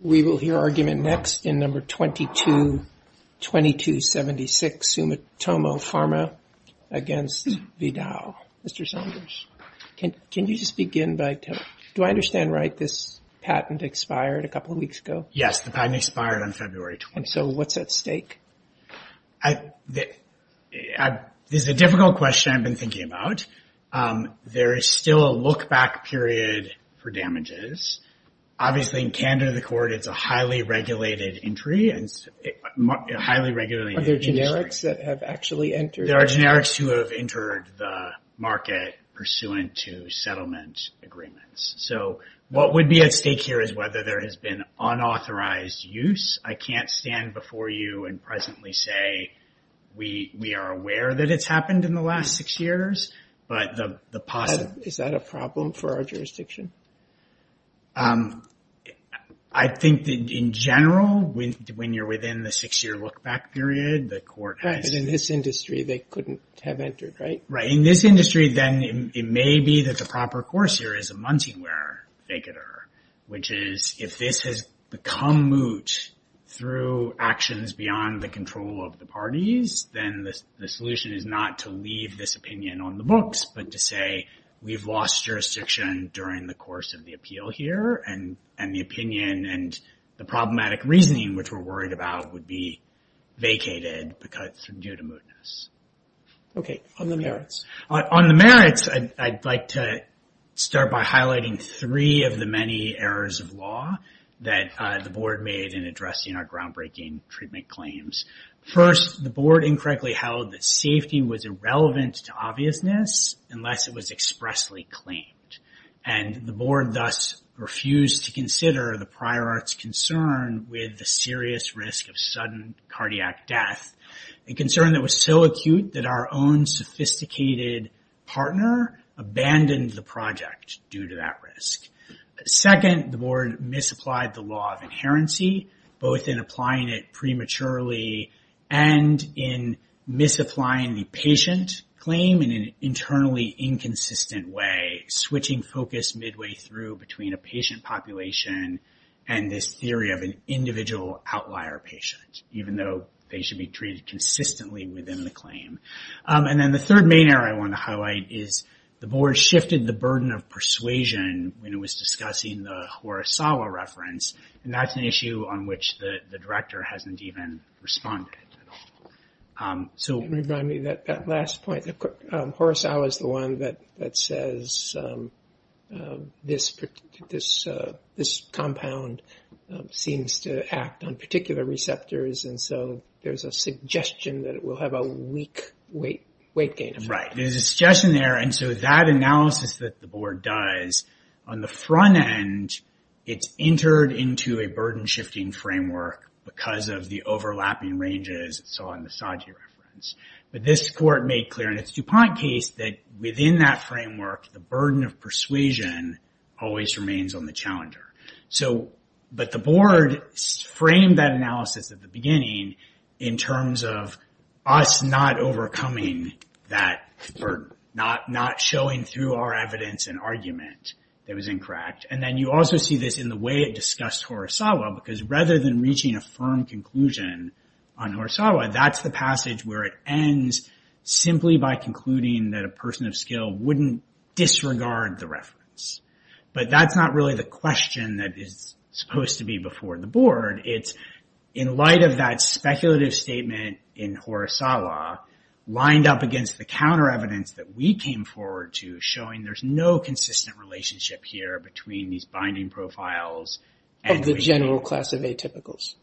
We will hear argument next in number 22, 2276 Sumitomo Pharma against Vidal. Mr. Saunders, can you just begin by, do I understand right this patent expired a couple of weeks ago? Yes, the patent expired on February 20th. And so what's at stake? This is a difficult question I've been thinking about. There is still a look back period for it. It's a highly regulated entry. Are there generics that have actually entered? There are generics who have entered the market pursuant to settlement agreements. So what would be at stake here is whether there has been unauthorized use. I can't stand before you and presently say we are aware that it's happened in the last six years, but the possibility... Is that a problem for our jurisdiction? I think that in general, when you're within the six-year look back period, the court has... But in this industry, they couldn't have entered, right? Right. In this industry, then it may be that the proper course here is a munting wear figure, which is if this has become moot through actions beyond the control of the parties, then the solution is not to leave this opinion on the books, but to say we've lost jurisdiction during the course of the appeal here and the opinion and the problematic reasoning, which we're worried about, would be vacated due to mootness. Okay. On the merits. On the merits, I'd like to start by highlighting three of the many errors of law that the board made in addressing our groundbreaking treatment claims. First, the board incorrectly held that and the board thus refused to consider the prior art's concern with the serious risk of sudden cardiac death, a concern that was so acute that our own sophisticated partner abandoned the project due to that risk. Second, the board misapplied the law of inherency, both in applying it prematurely and in misapplying the patient claim in an internally inconsistent way, switching focus midway through between a patient population and this theory of an individual outlier patient, even though they should be treated consistently within the claim. And then the third main error I want to highlight is the board shifted the burden of persuasion when it was discussing the Horasawa reference, and that's an issue on which the director hasn't even responded at all. So- This compound seems to act on particular receptors, and so there's a suggestion that it will have a weak weight gain effect. Right. There's a suggestion there, and so that analysis that the board does, on the front end, it's entered into a burden shifting framework because of the overlapping ranges it saw in the Saji reference. But this court made clear in its DuPont case that within that framework, the burden of persuasion always remains on the challenger. But the board framed that analysis at the beginning in terms of us not overcoming that burden, not showing through our evidence an argument that was incorrect. And then you also see this in the way it discussed Horasawa because rather than reaching a firm conclusion on wouldn't disregard the reference. But that's not really the question that is supposed to be before the board. It's in light of that speculative statement in Horasawa lined up against the counter evidence that we came forward to showing there's no consistent relationship here between these binding profiles and- Of the general class of atypicals.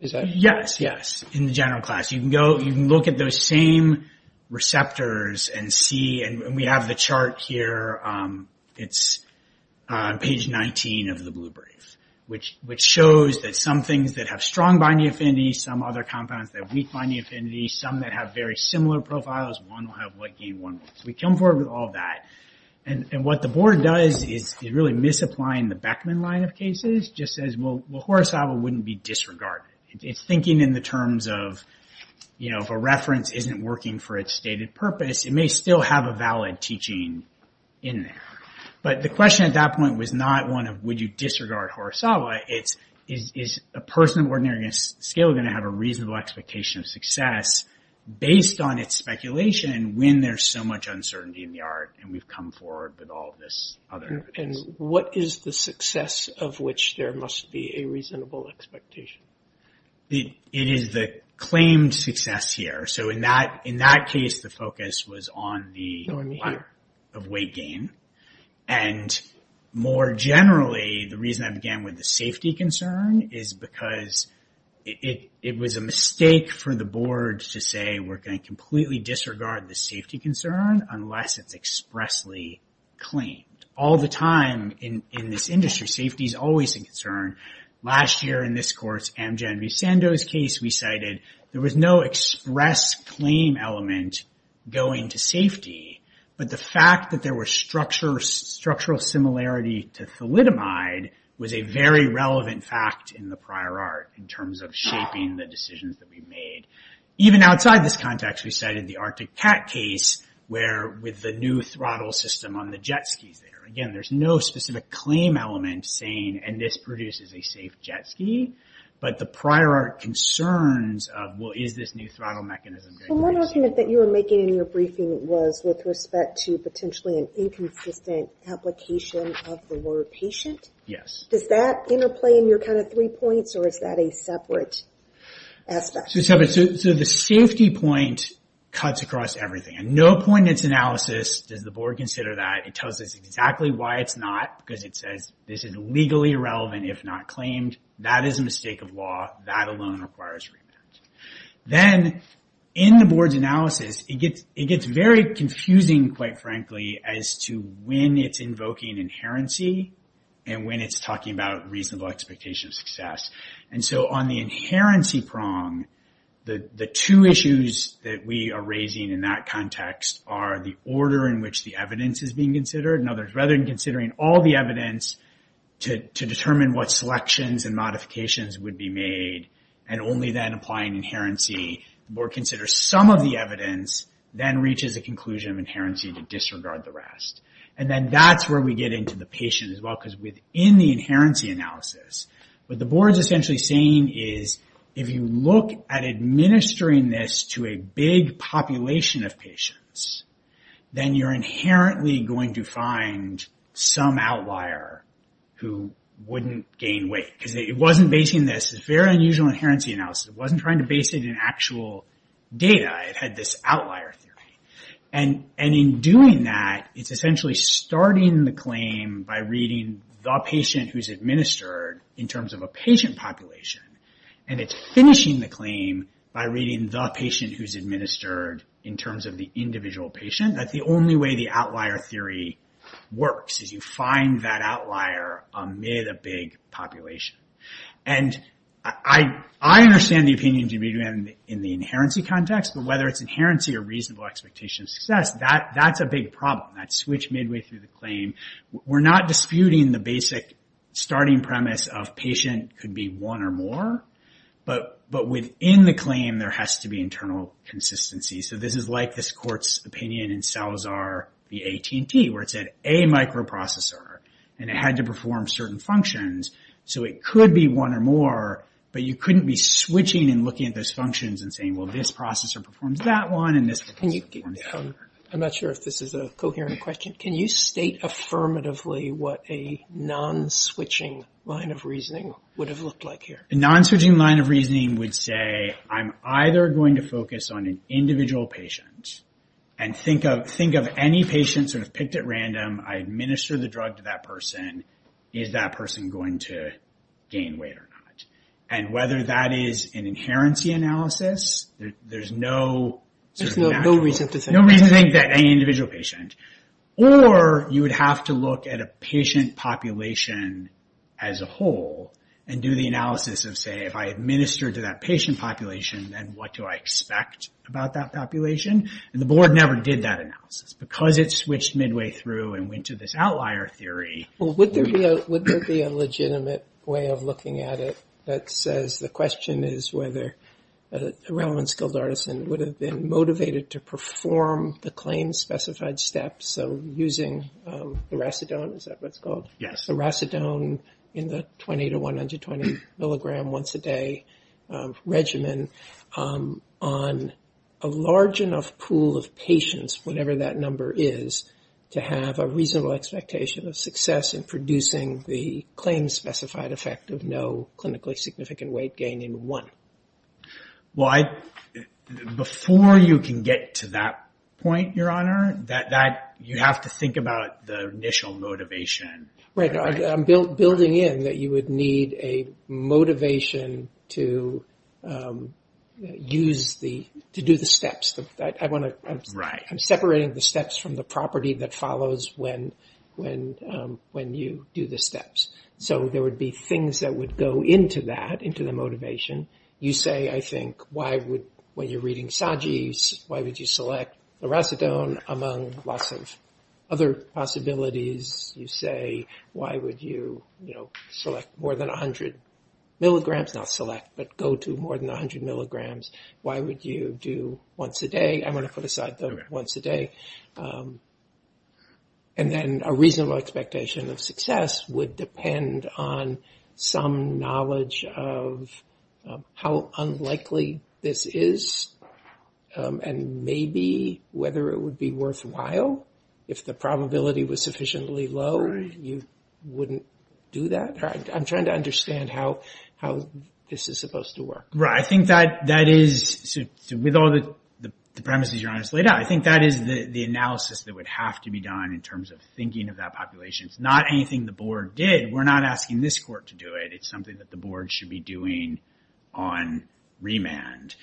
Is that- Yes, yes. In the general class. You can go, you can look at those same receptors and see, and we have the chart here, it's page 19 of the blue brief, which shows that some things that have strong binding affinity, some other compounds that have weak binding affinity, some that have very similar profiles, one will have what game, one won't. So we come forward with all that. And what the board does is really misapplying the Beckman line of cases, just says, well, Horasawa wouldn't be disregarded. It's thinking in the terms of, if a reference isn't working for its stated purpose, it may still have a valid teaching in there. But the question at that point was not one of, would you disregard Horasawa? It's, is a person of ordinary scale going to have a reasonable expectation of success based on its speculation when there's so much uncertainty in the art and we've come forward with all of this other- And what is the success of which there must be a reasonable expectation? The, it is the claimed success here. So in that, in that case, the focus was on the of weight gain. And more generally, the reason I began with the safety concern is because it, it was a mistake for the board to say, we're going to completely disregard the safety concern unless it's expressly claimed. All the time in, in this industry, safety is always a concern. Last year in this course, Amgen v. Sandow's case, we cited, there was no express claim element going to safety, but the fact that there were structure, structural similarity to thalidomide was a very relevant fact in the prior art in terms of shaping the decisions that we made. Even outside this context, we cited the Arctic Cat case where with the new throttle system on the jet skis there, again, there's no specific claim element saying, and this produces a safe jet ski, but the prior art concerns of, well, is this new throttle mechanism- The one argument that you were making in your briefing was with respect to potentially an inconsistent application of the word patient? Yes. Does that interplay in your kind of three points or is that a separate aspect? So the safety point cuts across everything and no point in its analysis does the board consider it tells us exactly why it's not, because it says this is legally irrelevant if not claimed, that is a mistake of law, that alone requires remand. Then in the board's analysis, it gets very confusing, quite frankly, as to when it's invoking inherency and when it's talking about reasonable expectation of success. And so on the inherency prong, the two issues that we are raising in that context are the order in which the evidence is being considered and rather than considering all the evidence to determine what selections and modifications would be made and only then applying inherency, the board considers some of the evidence, then reaches a conclusion of inherency to disregard the rest. And then that's where we get into the patient as well, because within the inherency analysis, what the board's essentially saying is, if you look at administering this to a big population of patients, then you're inherently going to find some outlier who wouldn't gain weight, because it wasn't basing this, it's very unusual inherency analysis, it wasn't trying to base it in actual data, it had this outlier theory. And in doing that, it's essentially starting the claim by reading the patient who's administered in terms of a patient population, and it's finishing the claim by reading the patient who's administered in terms of the individual patient. That's the only way the outlier theory works, is you find that outlier amid a big population. And I understand the opinion in the inherency context, but whether it's inherency or reasonable expectation of success, that's a big problem, that switch midway through the claim. We're not disputing the basic starting premise of patient could be one or more, but within the claim, there has to be internal consistency. So this is like this court's opinion in Salazar v. AT&T, where it said a microprocessor, and it had to perform certain functions. So it could be one or more, but you couldn't be switching and looking at those functions and saying, well, this processor performs that one, and this processor performs that one. I'm not sure if this is a coherent question. Can you state affirmatively what a non-switching line of reasoning would have looked like here? A non-switching line of reasoning would say, I'm either going to focus on an individual patient and think of any patient sort of picked at random. I administer the drug to that person. Is that person going to gain weight or not? And whether that is an inherency analysis, there's no reason to think that any individual patient, or you would have to look at a patient population as a whole and do the analysis of say, if I administer to that patient population, then what do I expect about that population? And the board never did that analysis because it switched midway through and went to this outlier theory. Well, would there be a legitimate way of looking at it that says the question is whether a relevant skilled artisan would have been motivated to perform the claim specified steps, so using the racidone, is that what it's called? Yes. The racidone in the 20 to 120 milligram once a day regimen on a large enough pool of patients, whatever that number is, to have a reasonable expectation of success in producing the claim specified effect of no Well, before you can get to that point, your honor, you have to think about the initial motivation. Right. I'm building in that you would need a motivation to do the steps. I'm separating the steps from the property that follows when you do the steps. So there would be things that would into that, into the motivation. You say, I think, when you're reading Sagi, why would you select the racidone among lots of other possibilities? You say, why would you select more than 100 milligrams? Not select, but go to more than 100 milligrams. Why would you do once a day? I want to put aside the once a day. And then a reasonable expectation of success would depend on some knowledge of how unlikely this is, and maybe whether it would be worthwhile if the probability was sufficiently low, you wouldn't do that. I'm trying to understand how this is supposed to work. Right. I think that is, with all the premises your honor has laid out, I think that is the analysis that would have to be done in terms of thinking of that population. Not anything the board did. We're not asking this court to do it. It's something that the board should be doing on remand.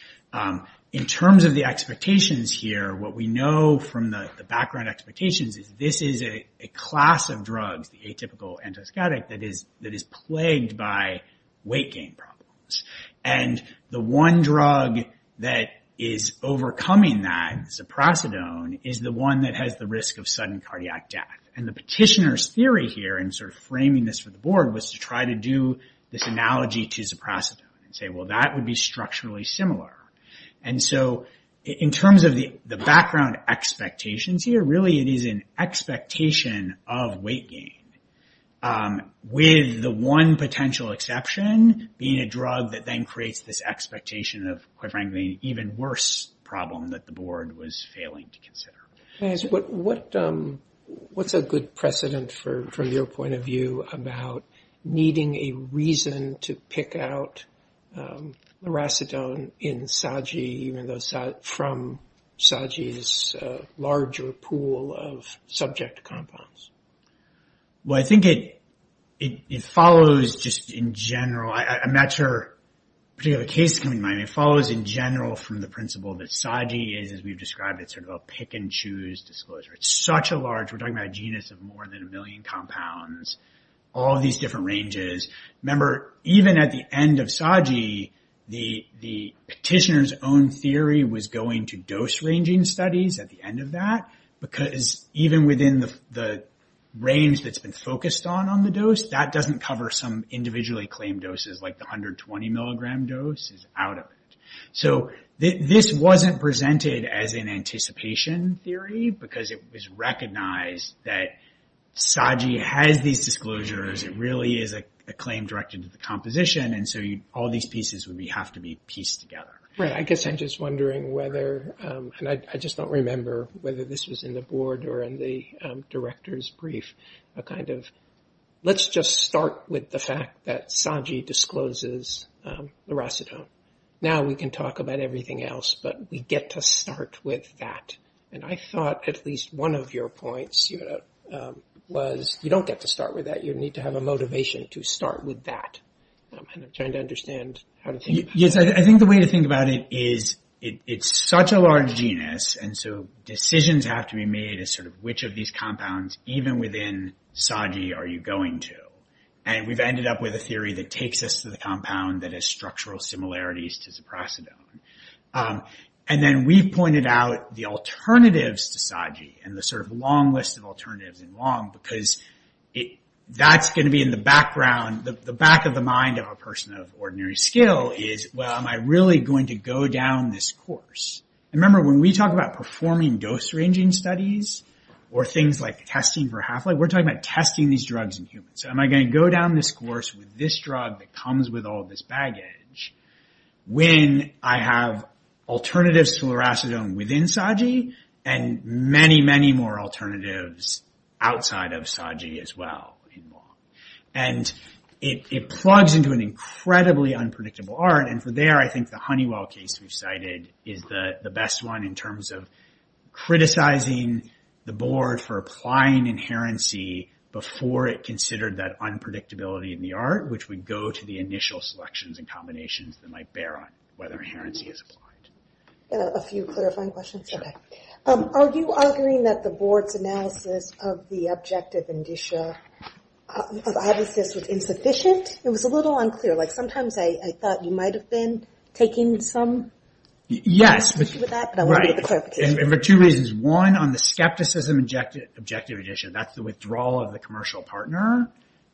In terms of the expectations here, what we know from the background expectations is this is a class of drugs, the atypical antipsychotic, that is plagued by weight gain problems. And the one drug that is overcoming that, ziprosidone, is the one that has risk of sudden cardiac death. And the petitioner's theory here, and sort of framing this for the board, was to try to do this analogy to ziprosidone, and say, well, that would be structurally similar. And so in terms of the background expectations here, really it is an expectation of weight gain, with the one potential exception being a drug that then creates this expectation of, quite frankly, an even worse problem that the board was failing to consider. What's a good precedent, from your point of view, about needing a reason to pick out loracidone in SAGI, from SAGI's larger pool of subject compounds? Well, I think it follows just in general. I'm not sure a particular case to come to mind. It follows in general from the principle that SAGI is, as we've described, it's sort of a pick and choose disclosure. It's such a large, we're talking about a genus of more than a million compounds, all of these different ranges. Remember, even at the end of SAGI, the petitioner's own theory was going to dose ranging studies at the end of that, because even within the range that's been focused on, on the dose, that doesn't cover some individually claimed doses, like the 120 milligram dose is out of it. So this wasn't presented as an anticipation theory, because it was recognized that SAGI has these disclosures. It really is a claim directed to the composition, and so all these pieces would have to be pieced together. Right. I guess I'm just wondering whether, and I just don't remember whether this was in the board or in the director's brief, a kind of, let's just start with the fact that SAGI discloses the racetone. Now we can talk about everything else, but we get to start with that. And I thought at least one of your points was, you don't get to start with that, you need to have a motivation to start with that. I'm trying to understand how to think about that. Yes, I think the way to think about it is, it's such a large genus, and so decisions have to be which of these compounds, even within SAGI, are you going to? And we've ended up with a theory that takes us to the compound that has structural similarities to zaprasidone. And then we've pointed out the alternatives to SAGI, and the long list of alternatives, and long, because that's going to be in the background, the back of the mind of a person of ordinary skill, is, well, am I really going to go down this course? Remember, when we talk about performing dose ranging studies, or things like testing for half-life, we're talking about testing these drugs in humans. Am I going to go down this course with this drug that comes with all this baggage, when I have alternatives to loracetone within SAGI, and many, many more alternatives outside of SAGI as well? And it plugs into an incredibly unpredictable art. And for there, I think the Honeywell case we've cited is the best one in terms of criticizing the board for applying inherency before it considered that unpredictability in the art, which would go to the initial selections and combinations that might bear on whether inherency is applied. A few clarifying questions? Okay. Are you arguing that the board's analysis of the objective indicia of abacus was insufficient? It was a little unclear. Sometimes I thought you might have been taking some... Yes.... with that, but I wanted the clarification. Right. And for two reasons. One, on the skepticism objective indicia, that's the withdrawal of the commercial partner.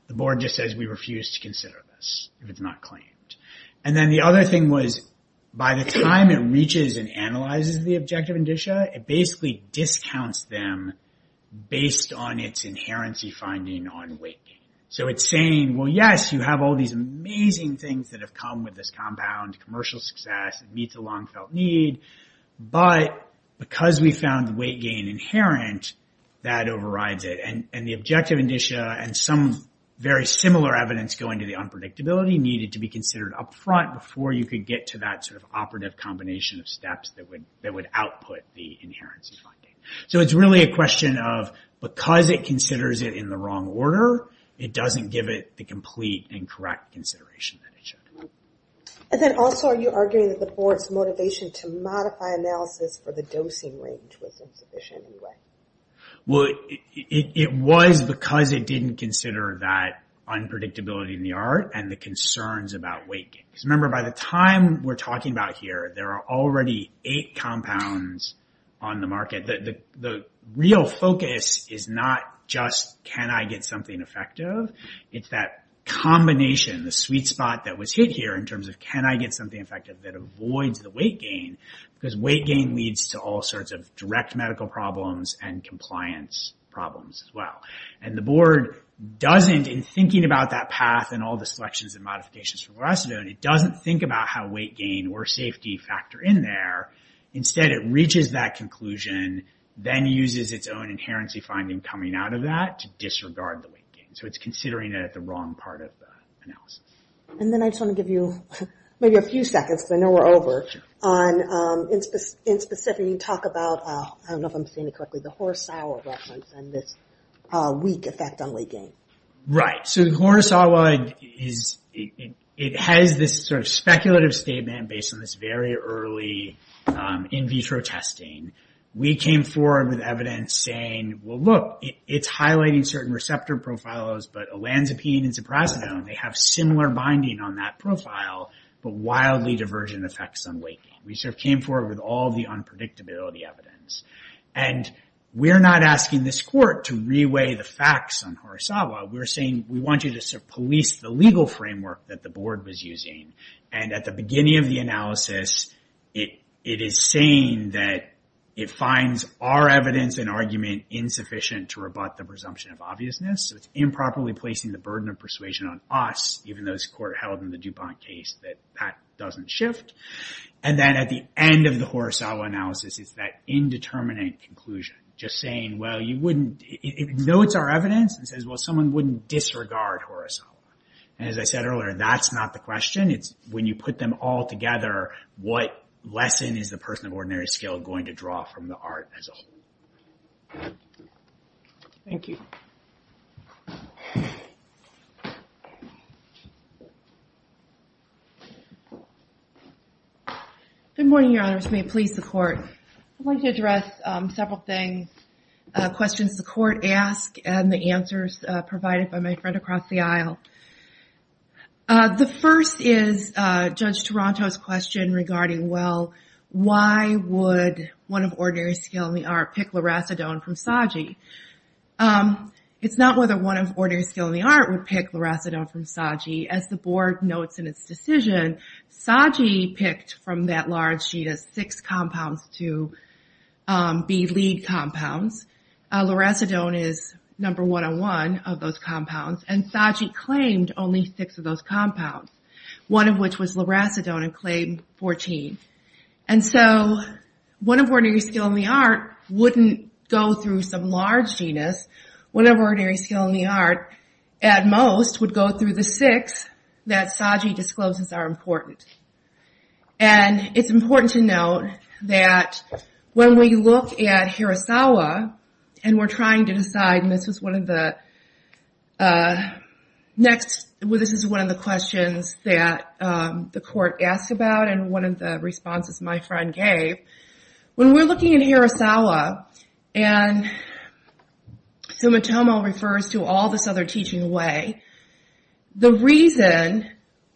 The board just says, we refuse to consider this if it's not claimed. And then the other thing was, by the time it reaches and analyzes the objective indicia, it basically discounts them based on its inherency finding on weight gain. So it's saying, well, yes, you have all these amazing things that have come with this compound commercial success. It meets a long felt need. But because we found the weight gain inherent, that overrides it. And the objective indicia and some very similar evidence going to the unpredictability needed to be considered upfront before you could get to that sort of operative combination of steps that would output the inherency finding. So it's really a question of, because it considers it in the wrong order, it doesn't give it the complete and correct consideration that it should. And then also, are you arguing that the board's motivation to modify analysis for the dosing range wasn't sufficient in any way? Well, it was because it didn't consider that unpredictability in the art and the concerns about weight gain. Because remember, by the time we're talking about here, there are already eight compounds on the market. The real focus is not just, can I get something effective? It's that combination, the sweet spot that was hit here in terms of, can I get something effective that avoids the weight gain? Because weight gain leads to all sorts of direct medical problems and compliance problems as well. And the board doesn't, in thinking about that path and all the selections and modifications for fluoresceinone, it doesn't think about how weight gain or safety factor in there. Instead, it reaches that conclusion, then uses its own inherency finding coming out of that to disregard the weight gain. So it's considering it at the wrong part of the analysis. And then I just want to give you maybe a few seconds, because I know we're over. In specific, you talk about, I don't know if I'm saying it correctly, the Horisawa reference and this weak effect on weight gain. Right. So Horisawa, it has this sort of speculative statement based on this very early in vitro testing. We came forward with evidence saying, well, look, it's highlighting certain receptor profilos, but olanzapine and ciprazidone, they have similar binding on that profile, but wildly diversion effects on weight gain. We sort of came forward with all the unpredictability evidence. And we're not asking this court to reweigh the facts on Horisawa. We're saying, we want you to sort of police the legal framework that the board was using. And at the beginning of the analysis, it is saying that it finds our evidence and argument insufficient to rebut the presumption of obviousness. So it's improperly placing the burden of persuasion on us, even though it's court held in the DuPont case that that doesn't shift. And then at the end of the Horisawa analysis, it's that indeterminate conclusion, just saying, well, you wouldn't... It notes our evidence and says, well, someone wouldn't disregard Horisawa. And as I said earlier, that's not the question. When you put them all together, what lesson is the person of ordinary skill going to draw from the art as a whole? Thank you. Good morning, your honors. May it please the court. I'd like to address several things, questions the court asked and the answers provided by my friend across the aisle. The first is Judge Toronto's question regarding, well, why would one of ordinary skill in the art pick loracidone from SAGI? It's not whether one of ordinary skill in the art would pick loracidone from SAGI. As the board notes in its decision, SAGI picked from that large sheet of six compounds to be lead compounds. Loracidone is number 101 of those compounds. And SAGI claimed only six of those compounds, one of which was loracidone and claimed 14. And so one of ordinary skill in the art wouldn't go through some large genus. One of ordinary skill in the art at most would go through the six that SAGI discloses are important. And it's important to note that when we look at Horisawa and we're trying to decide, this is one of the questions that the court asked about and one of the responses my friend gave, when we're looking at Horisawa and Sumitomo refers to all this other teaching away, the reason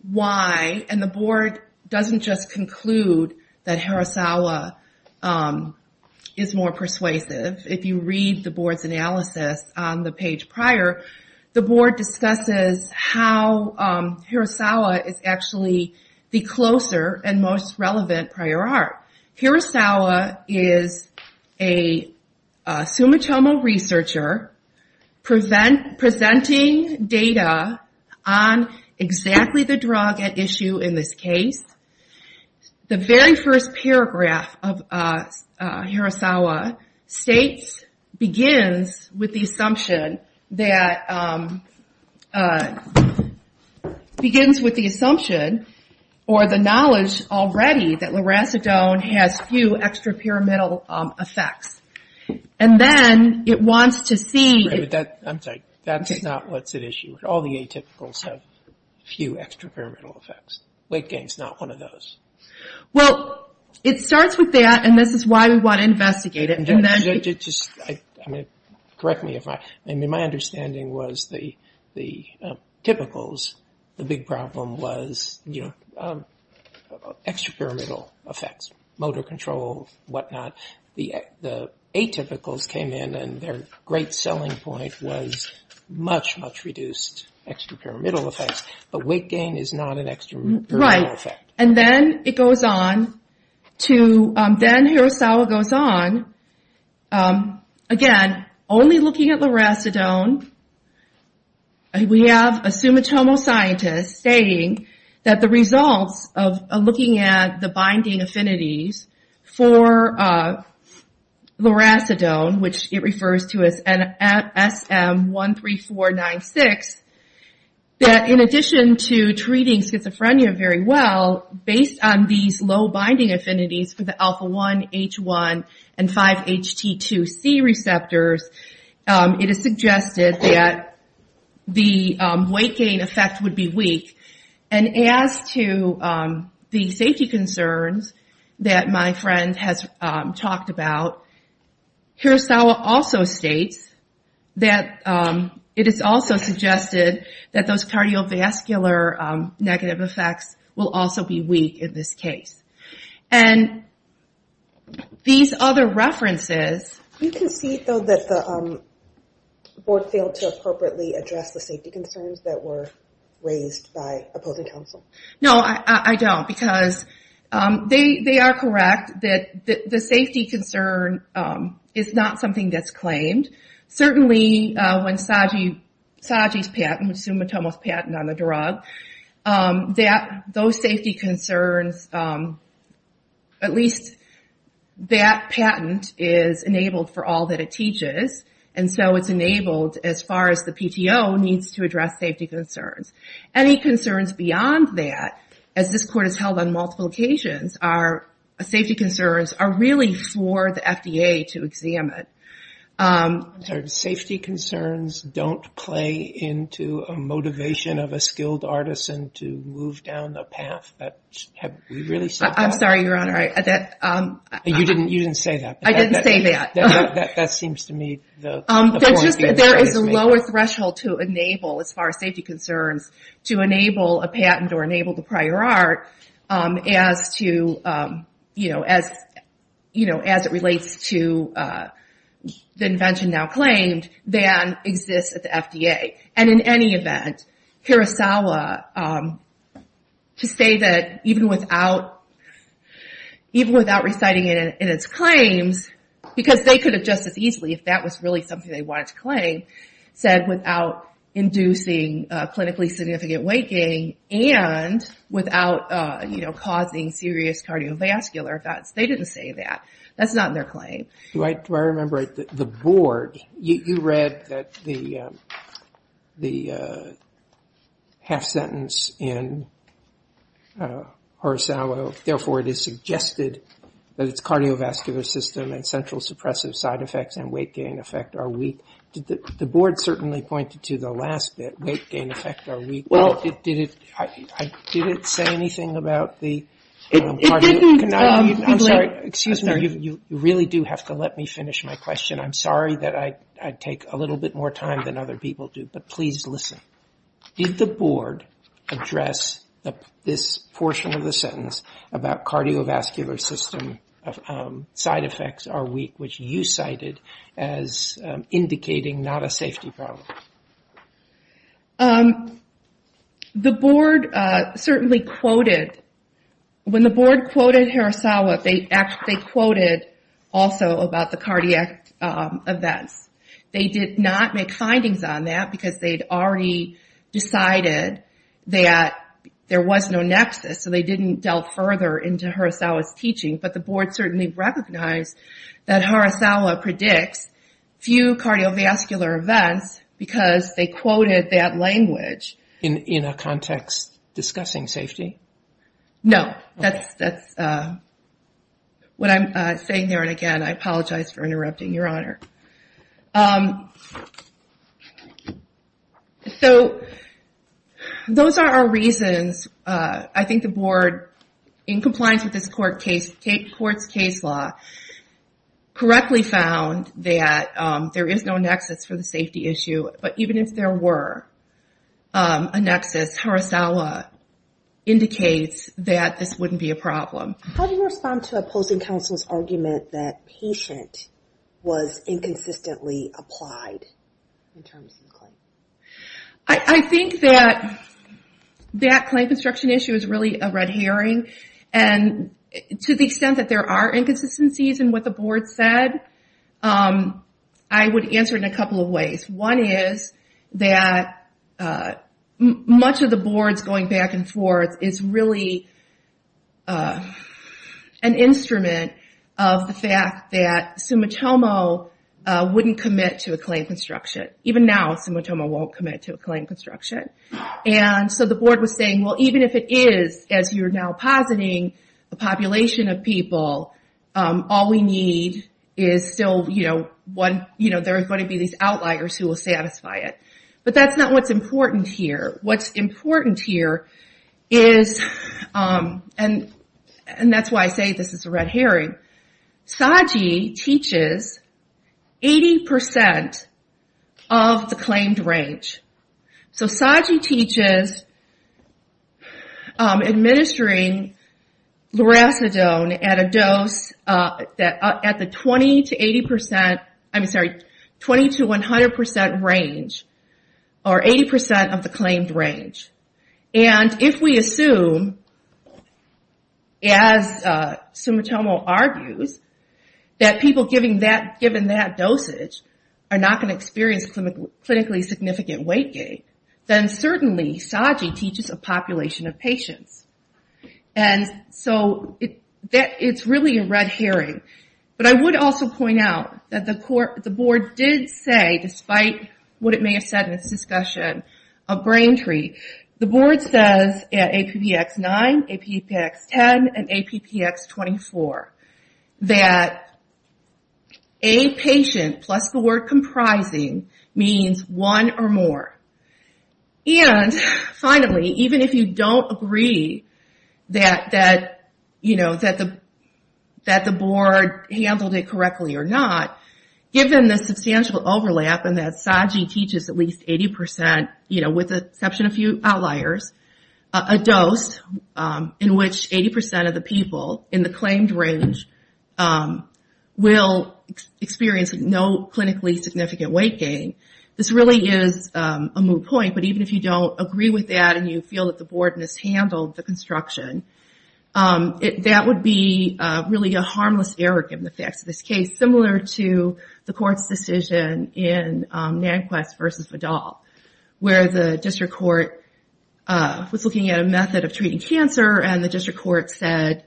why, and the board doesn't just conclude that Horisawa is more persuasive, if you read the board's analysis on the page prior, the board discusses how Horisawa is actually the closer and most relevant prior art. Horisawa is a Sumitomo researcher presenting data on exactly the drug at issue in this case. The very first paragraph of begins with the assumption or the knowledge already that loracidone has few extra pyramidal effects. And then it wants to see... Right, but that, I'm sorry, that's not what's at issue. All the atypicals have few extra pyramidal effects. Weight gain's not one of those. Well, it starts with that and this is why we want to investigate it. And just correct me if I... I mean, my understanding was the typicals, the big problem was extra pyramidal effects, motor control, whatnot. The atypicals came in and their great selling point was much, much reduced extra pyramidal effects, but weight gain is not an extra pyramidal effect. Right. And then it goes on to... Then Horisawa goes on. Again, only looking at loracidone, we have a Sumitomo scientist saying that the results of looking at the binding affinities for loracidone, which it refers to as SM13496, that in addition to treating schizophrenia very well, based on these low binding affinities for the alpha-1, H1, and 5-HT2C receptors, it is suggested that the weight gain effect would be weak. And as to the safety concerns that my friend has talked about, Horisawa also states that it is also suggested that those cardiovascular negative effects will also be weak in this case. And these other references... You can see, though, that the board failed to appropriately address the safety concerns that were raised by opposing counsel. No, I don't, because they are correct, that the safety concern is not something that's claimed. Certainly when Sagi's patent, Sumitomo's patent on the drug, that those safety concerns, at least that patent is enabled for all that it teaches, and so it's enabled as far as the PTO needs to address safety concerns. Any concerns beyond that, as this court has held on multiple occasions, are safety concerns are really for the FDA to examine. Safety concerns don't play into a motivation of a skilled artisan to move down the path? I'm sorry, Your Honor. You didn't say that. I didn't say that. That seems to me the point you're trying to make. There is a lower threshold to enable, as far as safety concerns, to enable a patent or enable the prior art as it relates to the invention now claimed, than exists at the FDA. And in any event, Hirasawa, to say that even without reciting it in its claims, because they could have just as easily, if that was really something they wanted to claim, said without inducing clinically significant weight gain and without causing serious cardiovascular effects, they didn't say that. That's not in their claim. Do I remember the board, you read that the half sentence in Hirasawa, therefore it is suggested that its cardiovascular system and central suppressive side effects and weight gain effect are weak. The board certainly pointed to the last bit, weight gain effect are weak. Did it say anything about the... It didn't. I'm sorry. Excuse me. You really do have to let me finish my question. I'm sorry that I take a little bit more time than other people do, but please listen. Did the board address this portion of the sentence about cardiovascular system side effects are weak, which you cited as indicating not a safety problem? The board certainly quoted... When the board quoted Hirasawa, they quoted also about the cardiac events. They did not make findings on that because they'd already decided that there was no nexus, so they didn't delve further into Hirasawa's teaching, but the board certainly recognized that Hirasawa predicts few cardiovascular events because they quoted that language. In a context discussing safety? No. That's what I'm saying there, and again, I apologize for interrupting, Your Honor. Those are our reasons. I think the board, in compliance with this court's case law, correctly found that there is no nexus for the safety issue, but even if there were a nexus, Hirasawa indicates that this wouldn't be a problem. How do you respond to opposing counsel's argument that patient was inconsistently applied in terms of the claim? I think that that claim construction issue is really a red herring, and to the extent that there are inconsistencies in what the board said, I would answer it in a couple of ways. One is that much of the board's going back and forth is really an instrument of the fact that Sumitomo wouldn't commit to a claim construction. Even now, Sumitomo won't commit to a claim construction, and so the board was saying, well, even if it is, as you're now positing, a population of people, all we need is still there are going to be these outliers who will satisfy it, but that's not what's important here. What's important here is, and that's why I say this is a red herring. SAGI teaches 80% of the claimed range. SAGI teaches administering loracidone at a dose at the 20 to 100% range, or 80% of the claimed range. And if we assume, as Sumitomo argues, that people given that dosage are not going to experience clinically significant weight gain, then certainly SAGI teaches a population of patients, and so it's really a red herring. But I would also point out that the board did say, despite what it may have said in this discussion of Braintree, the board says at APPX9, APPX10, and APPX24, that a patient plus the word comprising means one or more. And finally, even if you don't agree that the board handled it correctly or not, given the substantial overlap and that SAGI teaches at least 80%, with the exception of a few outliers, a dose in which 80% of the people in the claimed range will experience no clinically significant weight gain, this really is a moot point. But even if you don't agree with that and you feel that the board mishandled the construction, that would be really a harmless error given the facts of this case, similar to the court's decision in Nanquist v. Vidal, where the district court was looking at a method of treating cancer, and the district court said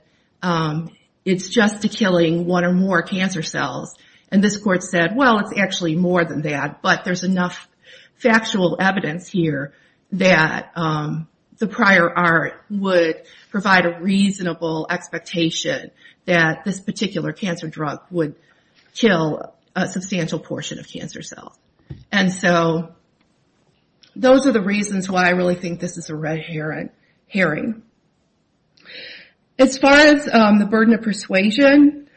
it's just to killing one or more cancer cells. And this court said, well, it's actually more than that, but there's enough factual evidence here that the prior art would provide a reasonable expectation that this particular cancer drug would kill a substantial portion of cancer cells. And so those are the reasons why I really think this is a red herring. As far as the burden of persuasion,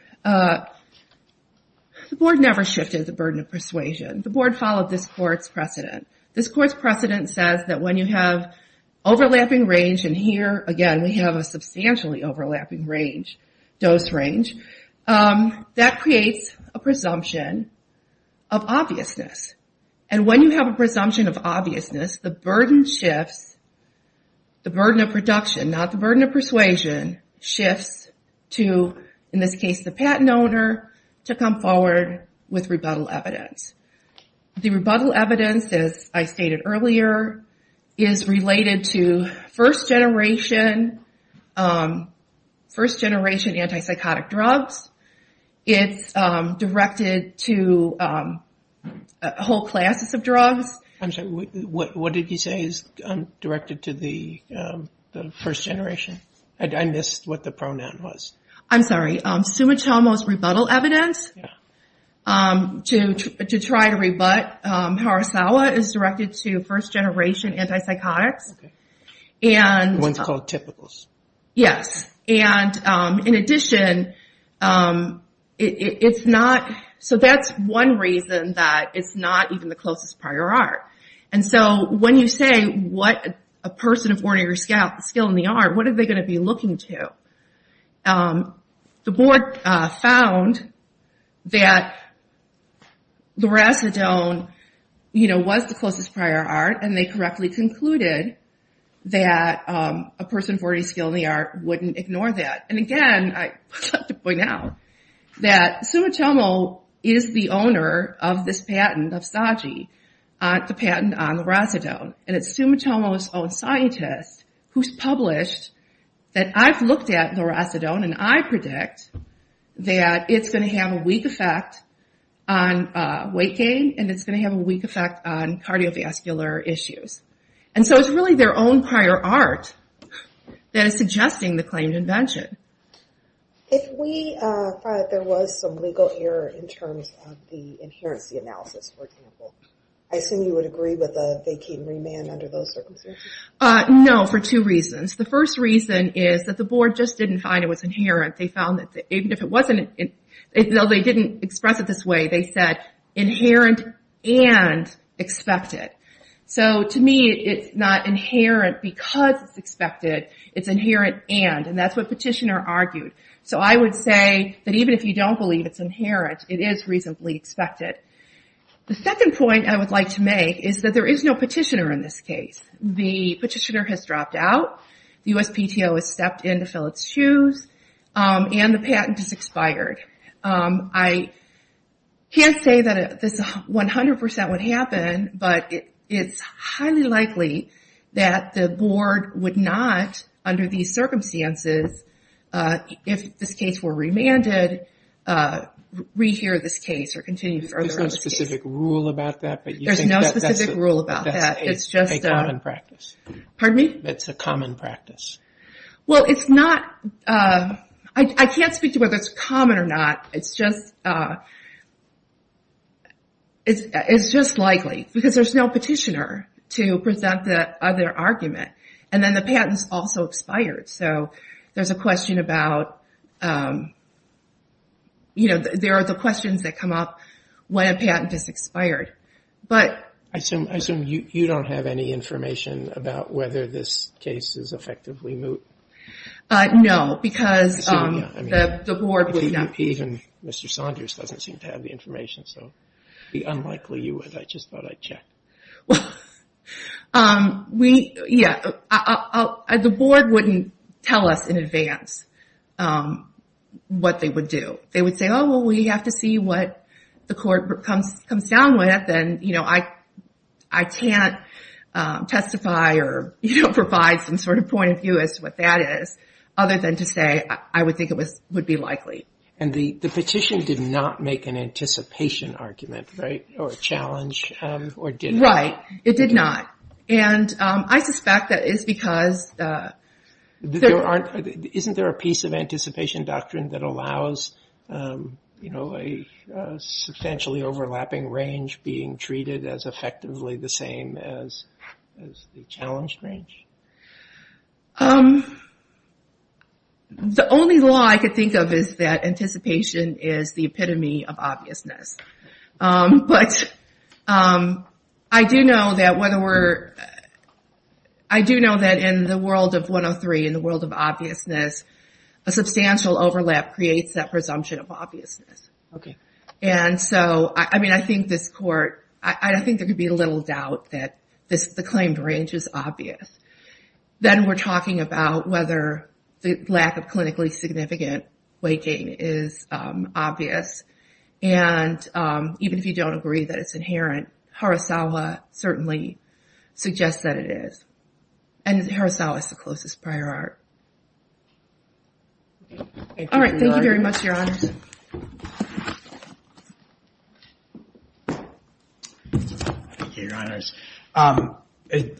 the board never shifted the burden of persuasion. The board followed this court's precedent. This court's precedent says that when you have overlapping range, and here, again, we have a substantially overlapping dose range, that creates a presumption of obviousness. And when you have a presumption of obviousness, the burden shifts, the burden of production, not the burden of persuasion, shifts to, in this case, the patent owner to come forward with rebuttal evidence. The rebuttal evidence, as I stated earlier, is related to first-generation anti-psychotic drugs. It's directed to whole classes of drugs. I'm sorry, what did you say is directed to the first generation? I missed what the pronoun was. I'm sorry. Sumatomo's rebuttal evidence to try to rebut Harasawa is directed to first-generation anti-psychotics. One's called Typicals. Yes. And in addition, it's not, so that's one reason that it's not even the closest prior art. And so when you say, what a person of ordinary skill in the art, what are they going to be looking to? The board found that loracidone was the closest prior art, and they correctly concluded that a person of ordinary skill in the art wouldn't ignore that. And again, I'd like to point out that Sumatomo is the owner of this patent of SAGI, the patent on loracidone, and it's Sumatomo's own scientist who's published that I've looked at loracidone and I predict that it's going to have a weak effect on weight gain and it's going to have a weak effect on cardiovascular issues. And so it's really their own prior art that is suggesting the claimed invention. If we find that there was some legal error in terms of the inherency analysis, for example, I assume you would agree with a vacating remand under those circumstances? No, for two reasons. The first reason is that the board just didn't find it was inherent. They found that even if it wasn't, even though they didn't express it this way, they said inherent and expected. So to me, it's not inherent because it's expected. It's inherent and, and that's what petitioner argued. So I would say that even if you don't believe it's inherent, it is reasonably expected. The second point I would like to make is that there is no petitioner in this case. The petitioner has dropped out. The USPTO has stepped in to fill its shoes and the patent is expired. I can't say that this 100% would happen, but it's highly likely that the board would not, under these circumstances, if this case were remanded, rehear this case or continue further. There's no specific rule about that? There's no specific rule about that. It's just a common practice. Pardon me? It's a common practice. Well, it's not, I can't speak to whether it's common or not. It's just, it's just likely because there's no petitioner to present the other argument. And then the patent's also expired. So there's a question about, you know, there are the questions that come up when a patent is expired. But... I assume you don't have any information about whether this case is effectively moot? No, because the board would not... Even Mr. Saunders doesn't seem to have the information, so it would be unlikely you would. I just thought I'd check. Yeah, the board wouldn't tell us in advance what they would do. They would say, oh, well, we have to see what the court comes down with. I can't testify or provide some sort of point of view as to what that is, other than to say I would think it would be likely. And the petition did not make an anticipation argument, right? Or a challenge, or did it? Right. It did not. And I suspect that is because... Isn't there a piece of anticipation doctrine that allows, you know, a substantially overlapping range being treated as effectively the same as the challenged range? The only law I could think of is that anticipation is the epitome of obviousness. But I do know that whether we're... I do know that in the world of 103, in the world of obviousness, a substantial overlap creates that presumption of obviousness. Okay. And so, I mean, I think this court... I think there could be little doubt that the claimed range is obvious. Then we're talking about whether the lack of clinically significant weight gain is obvious. And even if you don't agree that it's inherent, Harasawa certainly suggests that it is. And Harasawa is the closest prior art. Okay. All right. Thank you very much, Your Honors. Thank you, Your Honors.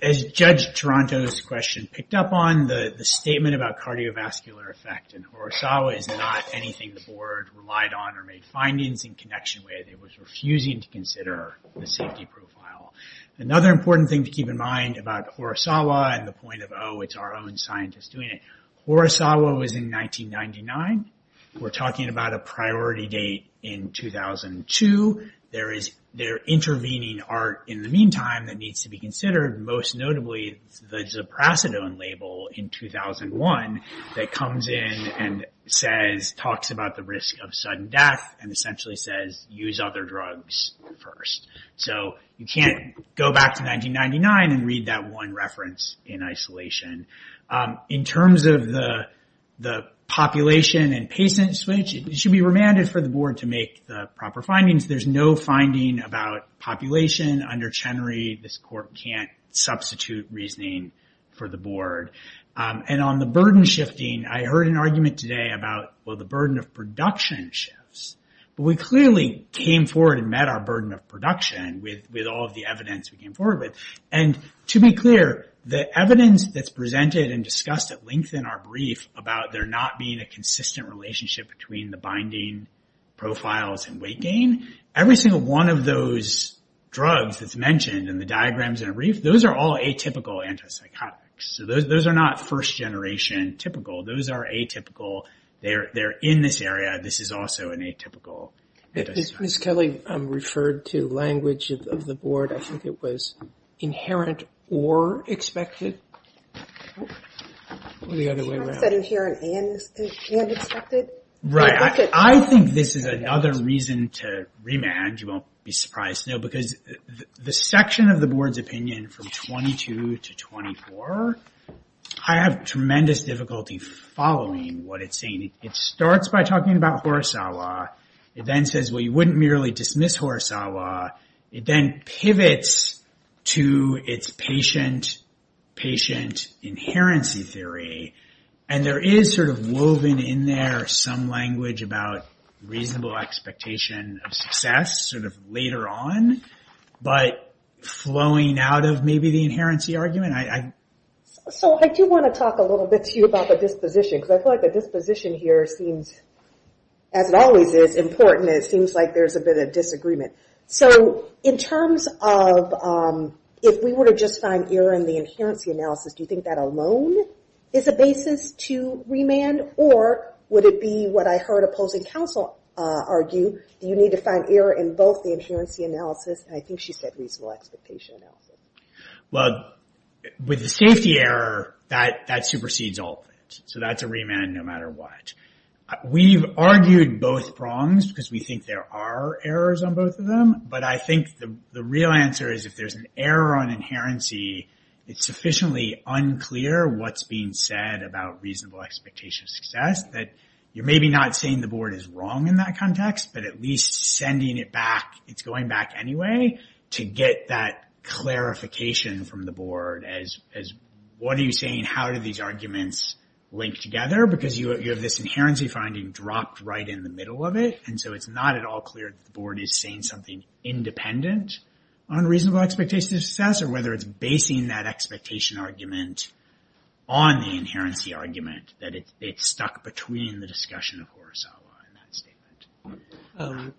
As Judge Toronto's question picked up on, the statement about cardiovascular effect in Harasawa is not anything the board relied on or made findings in connection with. It was refusing to consider the safety profile. Another important thing to keep in mind about Harasawa and the point of, oh, it's our own scientists doing it. Harasawa was in 1999. We're talking about a priority date in 2002. They're intervening art in the meantime that needs to be considered, most notably the Ziprasidone label in 2001 that comes in and talks about the risk of sudden death and essentially says, use other drugs first. So you can't go back to 1999 and read that one reference in isolation. In terms of the population and patient switch, it should be remanded for the board to make the proper findings. There's no finding about population under Chenery. This court can't substitute reasoning for the board. And on the burden shifting, I heard an argument today about, well, the burden of production shifts. But we clearly came forward and met our burden of production with all of the evidence we came forward with. And to be clear, the evidence that's presented and discussed at length in our brief about there not being a consistent relationship between the binding profiles and weight gain, every single one of those drugs that's mentioned in the diagrams in a brief, those are all atypical antipsychotics. So those are not first generation typical. Those are atypical. They're in this area. This is also an atypical. Ms. Kelly referred to language of the board. I think it was inherent or expected. Or the other way around. Inherent and expected? Right. I think this is another reason to remand. You won't be surprised to know. Because the section of the board's opinion from 22 to 24, I have tremendous difficulty following what it's saying. It starts by talking about Horisawa. It then says, well, you wouldn't merely dismiss Horisawa. It then pivots to its patient-patient inherency theory. And there is sort of woven in there some language about reasonable expectation of success sort of later on. But flowing out of maybe the inherency argument, I... So I do want to talk a little bit to you about the disposition. Because I feel like the disposition here seems, as it always is, important. It seems like there's a bit of disagreement. So in terms of if we were to just find error in the inherency analysis, do you think that alone is a basis to remand? Or would it be what I heard opposing counsel argue? Do you need to find error in both the inherency analysis and I think she said reasonable expectation analysis? Well, with the safety error, that supersedes all of it. So that's a remand no matter what. We've argued both prongs because we think there are errors on both of them. But I think the real answer is if there's an error on inherency, it's sufficiently unclear what's being said about reasonable expectation of success that you're maybe not saying the board is wrong in that context, but at least sending it back. It's going back anyway to get that clarification from the board as what are you saying? How do these arguments link together? Because you have this inherency finding dropped right in the middle of it. And so it's not at all clear that the board is saying something independent on reasonable expectation of success or whether it's basing that expectation argument on the inherency argument that it's stuck between the discussion of Horacella in that statement.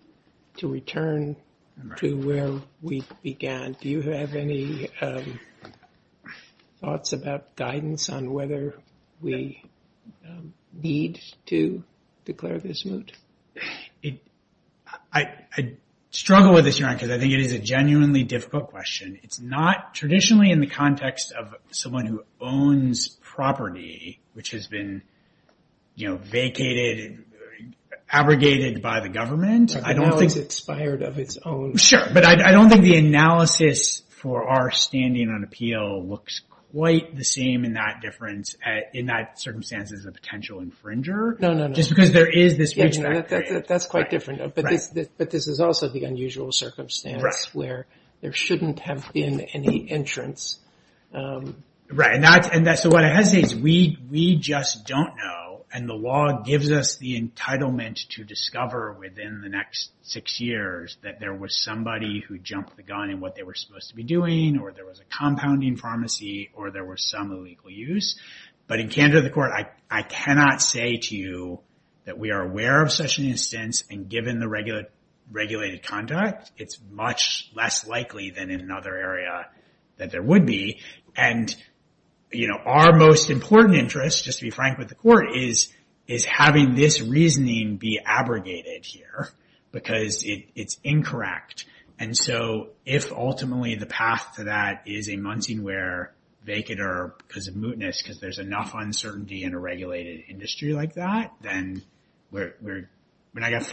To return to where we began, do you have any thoughts about guidance on whether we need to declare this moot? I struggle with this, Your Honor, because I think it is a genuinely difficult question. It's not traditionally in the context of someone who owns property, which has been vacated and abrogated by the government. I don't think it's fired of its own. Sure, but I don't think the analysis for our standing on appeal looks quite the same in that circumstance as a potential infringer. No, no, no. Just because there is this... That's quite different. But this is also the unusual circumstance where there shouldn't have been any entrance. Right, and so what I hesitate is we just don't know and the law gives us the entitlement to discover within the next six years that there was somebody who jumped the gun in what they were supposed to be doing, or there was a compounding pharmacy, or there was some illegal use. But in candor of the court, I cannot say to you that we are aware of such an instance and given the regulated conduct, it's much less likely than in another area that there would be. And our most important interest, just to be frank with the court, is having this reasoning be abrogated here because it's incorrect. And so if ultimately the path to that is a Muncie where they could, or because of mootness, because there's enough uncertainty in a regulated industry like that, then we're not going to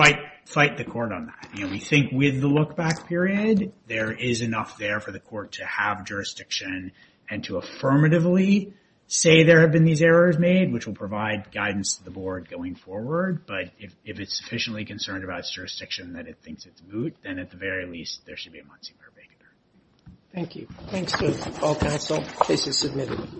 fight the court on that. You know, we think with the look back period, there is enough there for the court to have jurisdiction and to affirmatively say there have been these errors made, which will provide guidance to the board going forward. But if it's sufficiently concerned about jurisdiction that it thinks it's moot, then at the very least, there should be a Muncie where they could. Thank you. Thanks to all counsel. Case is submitted.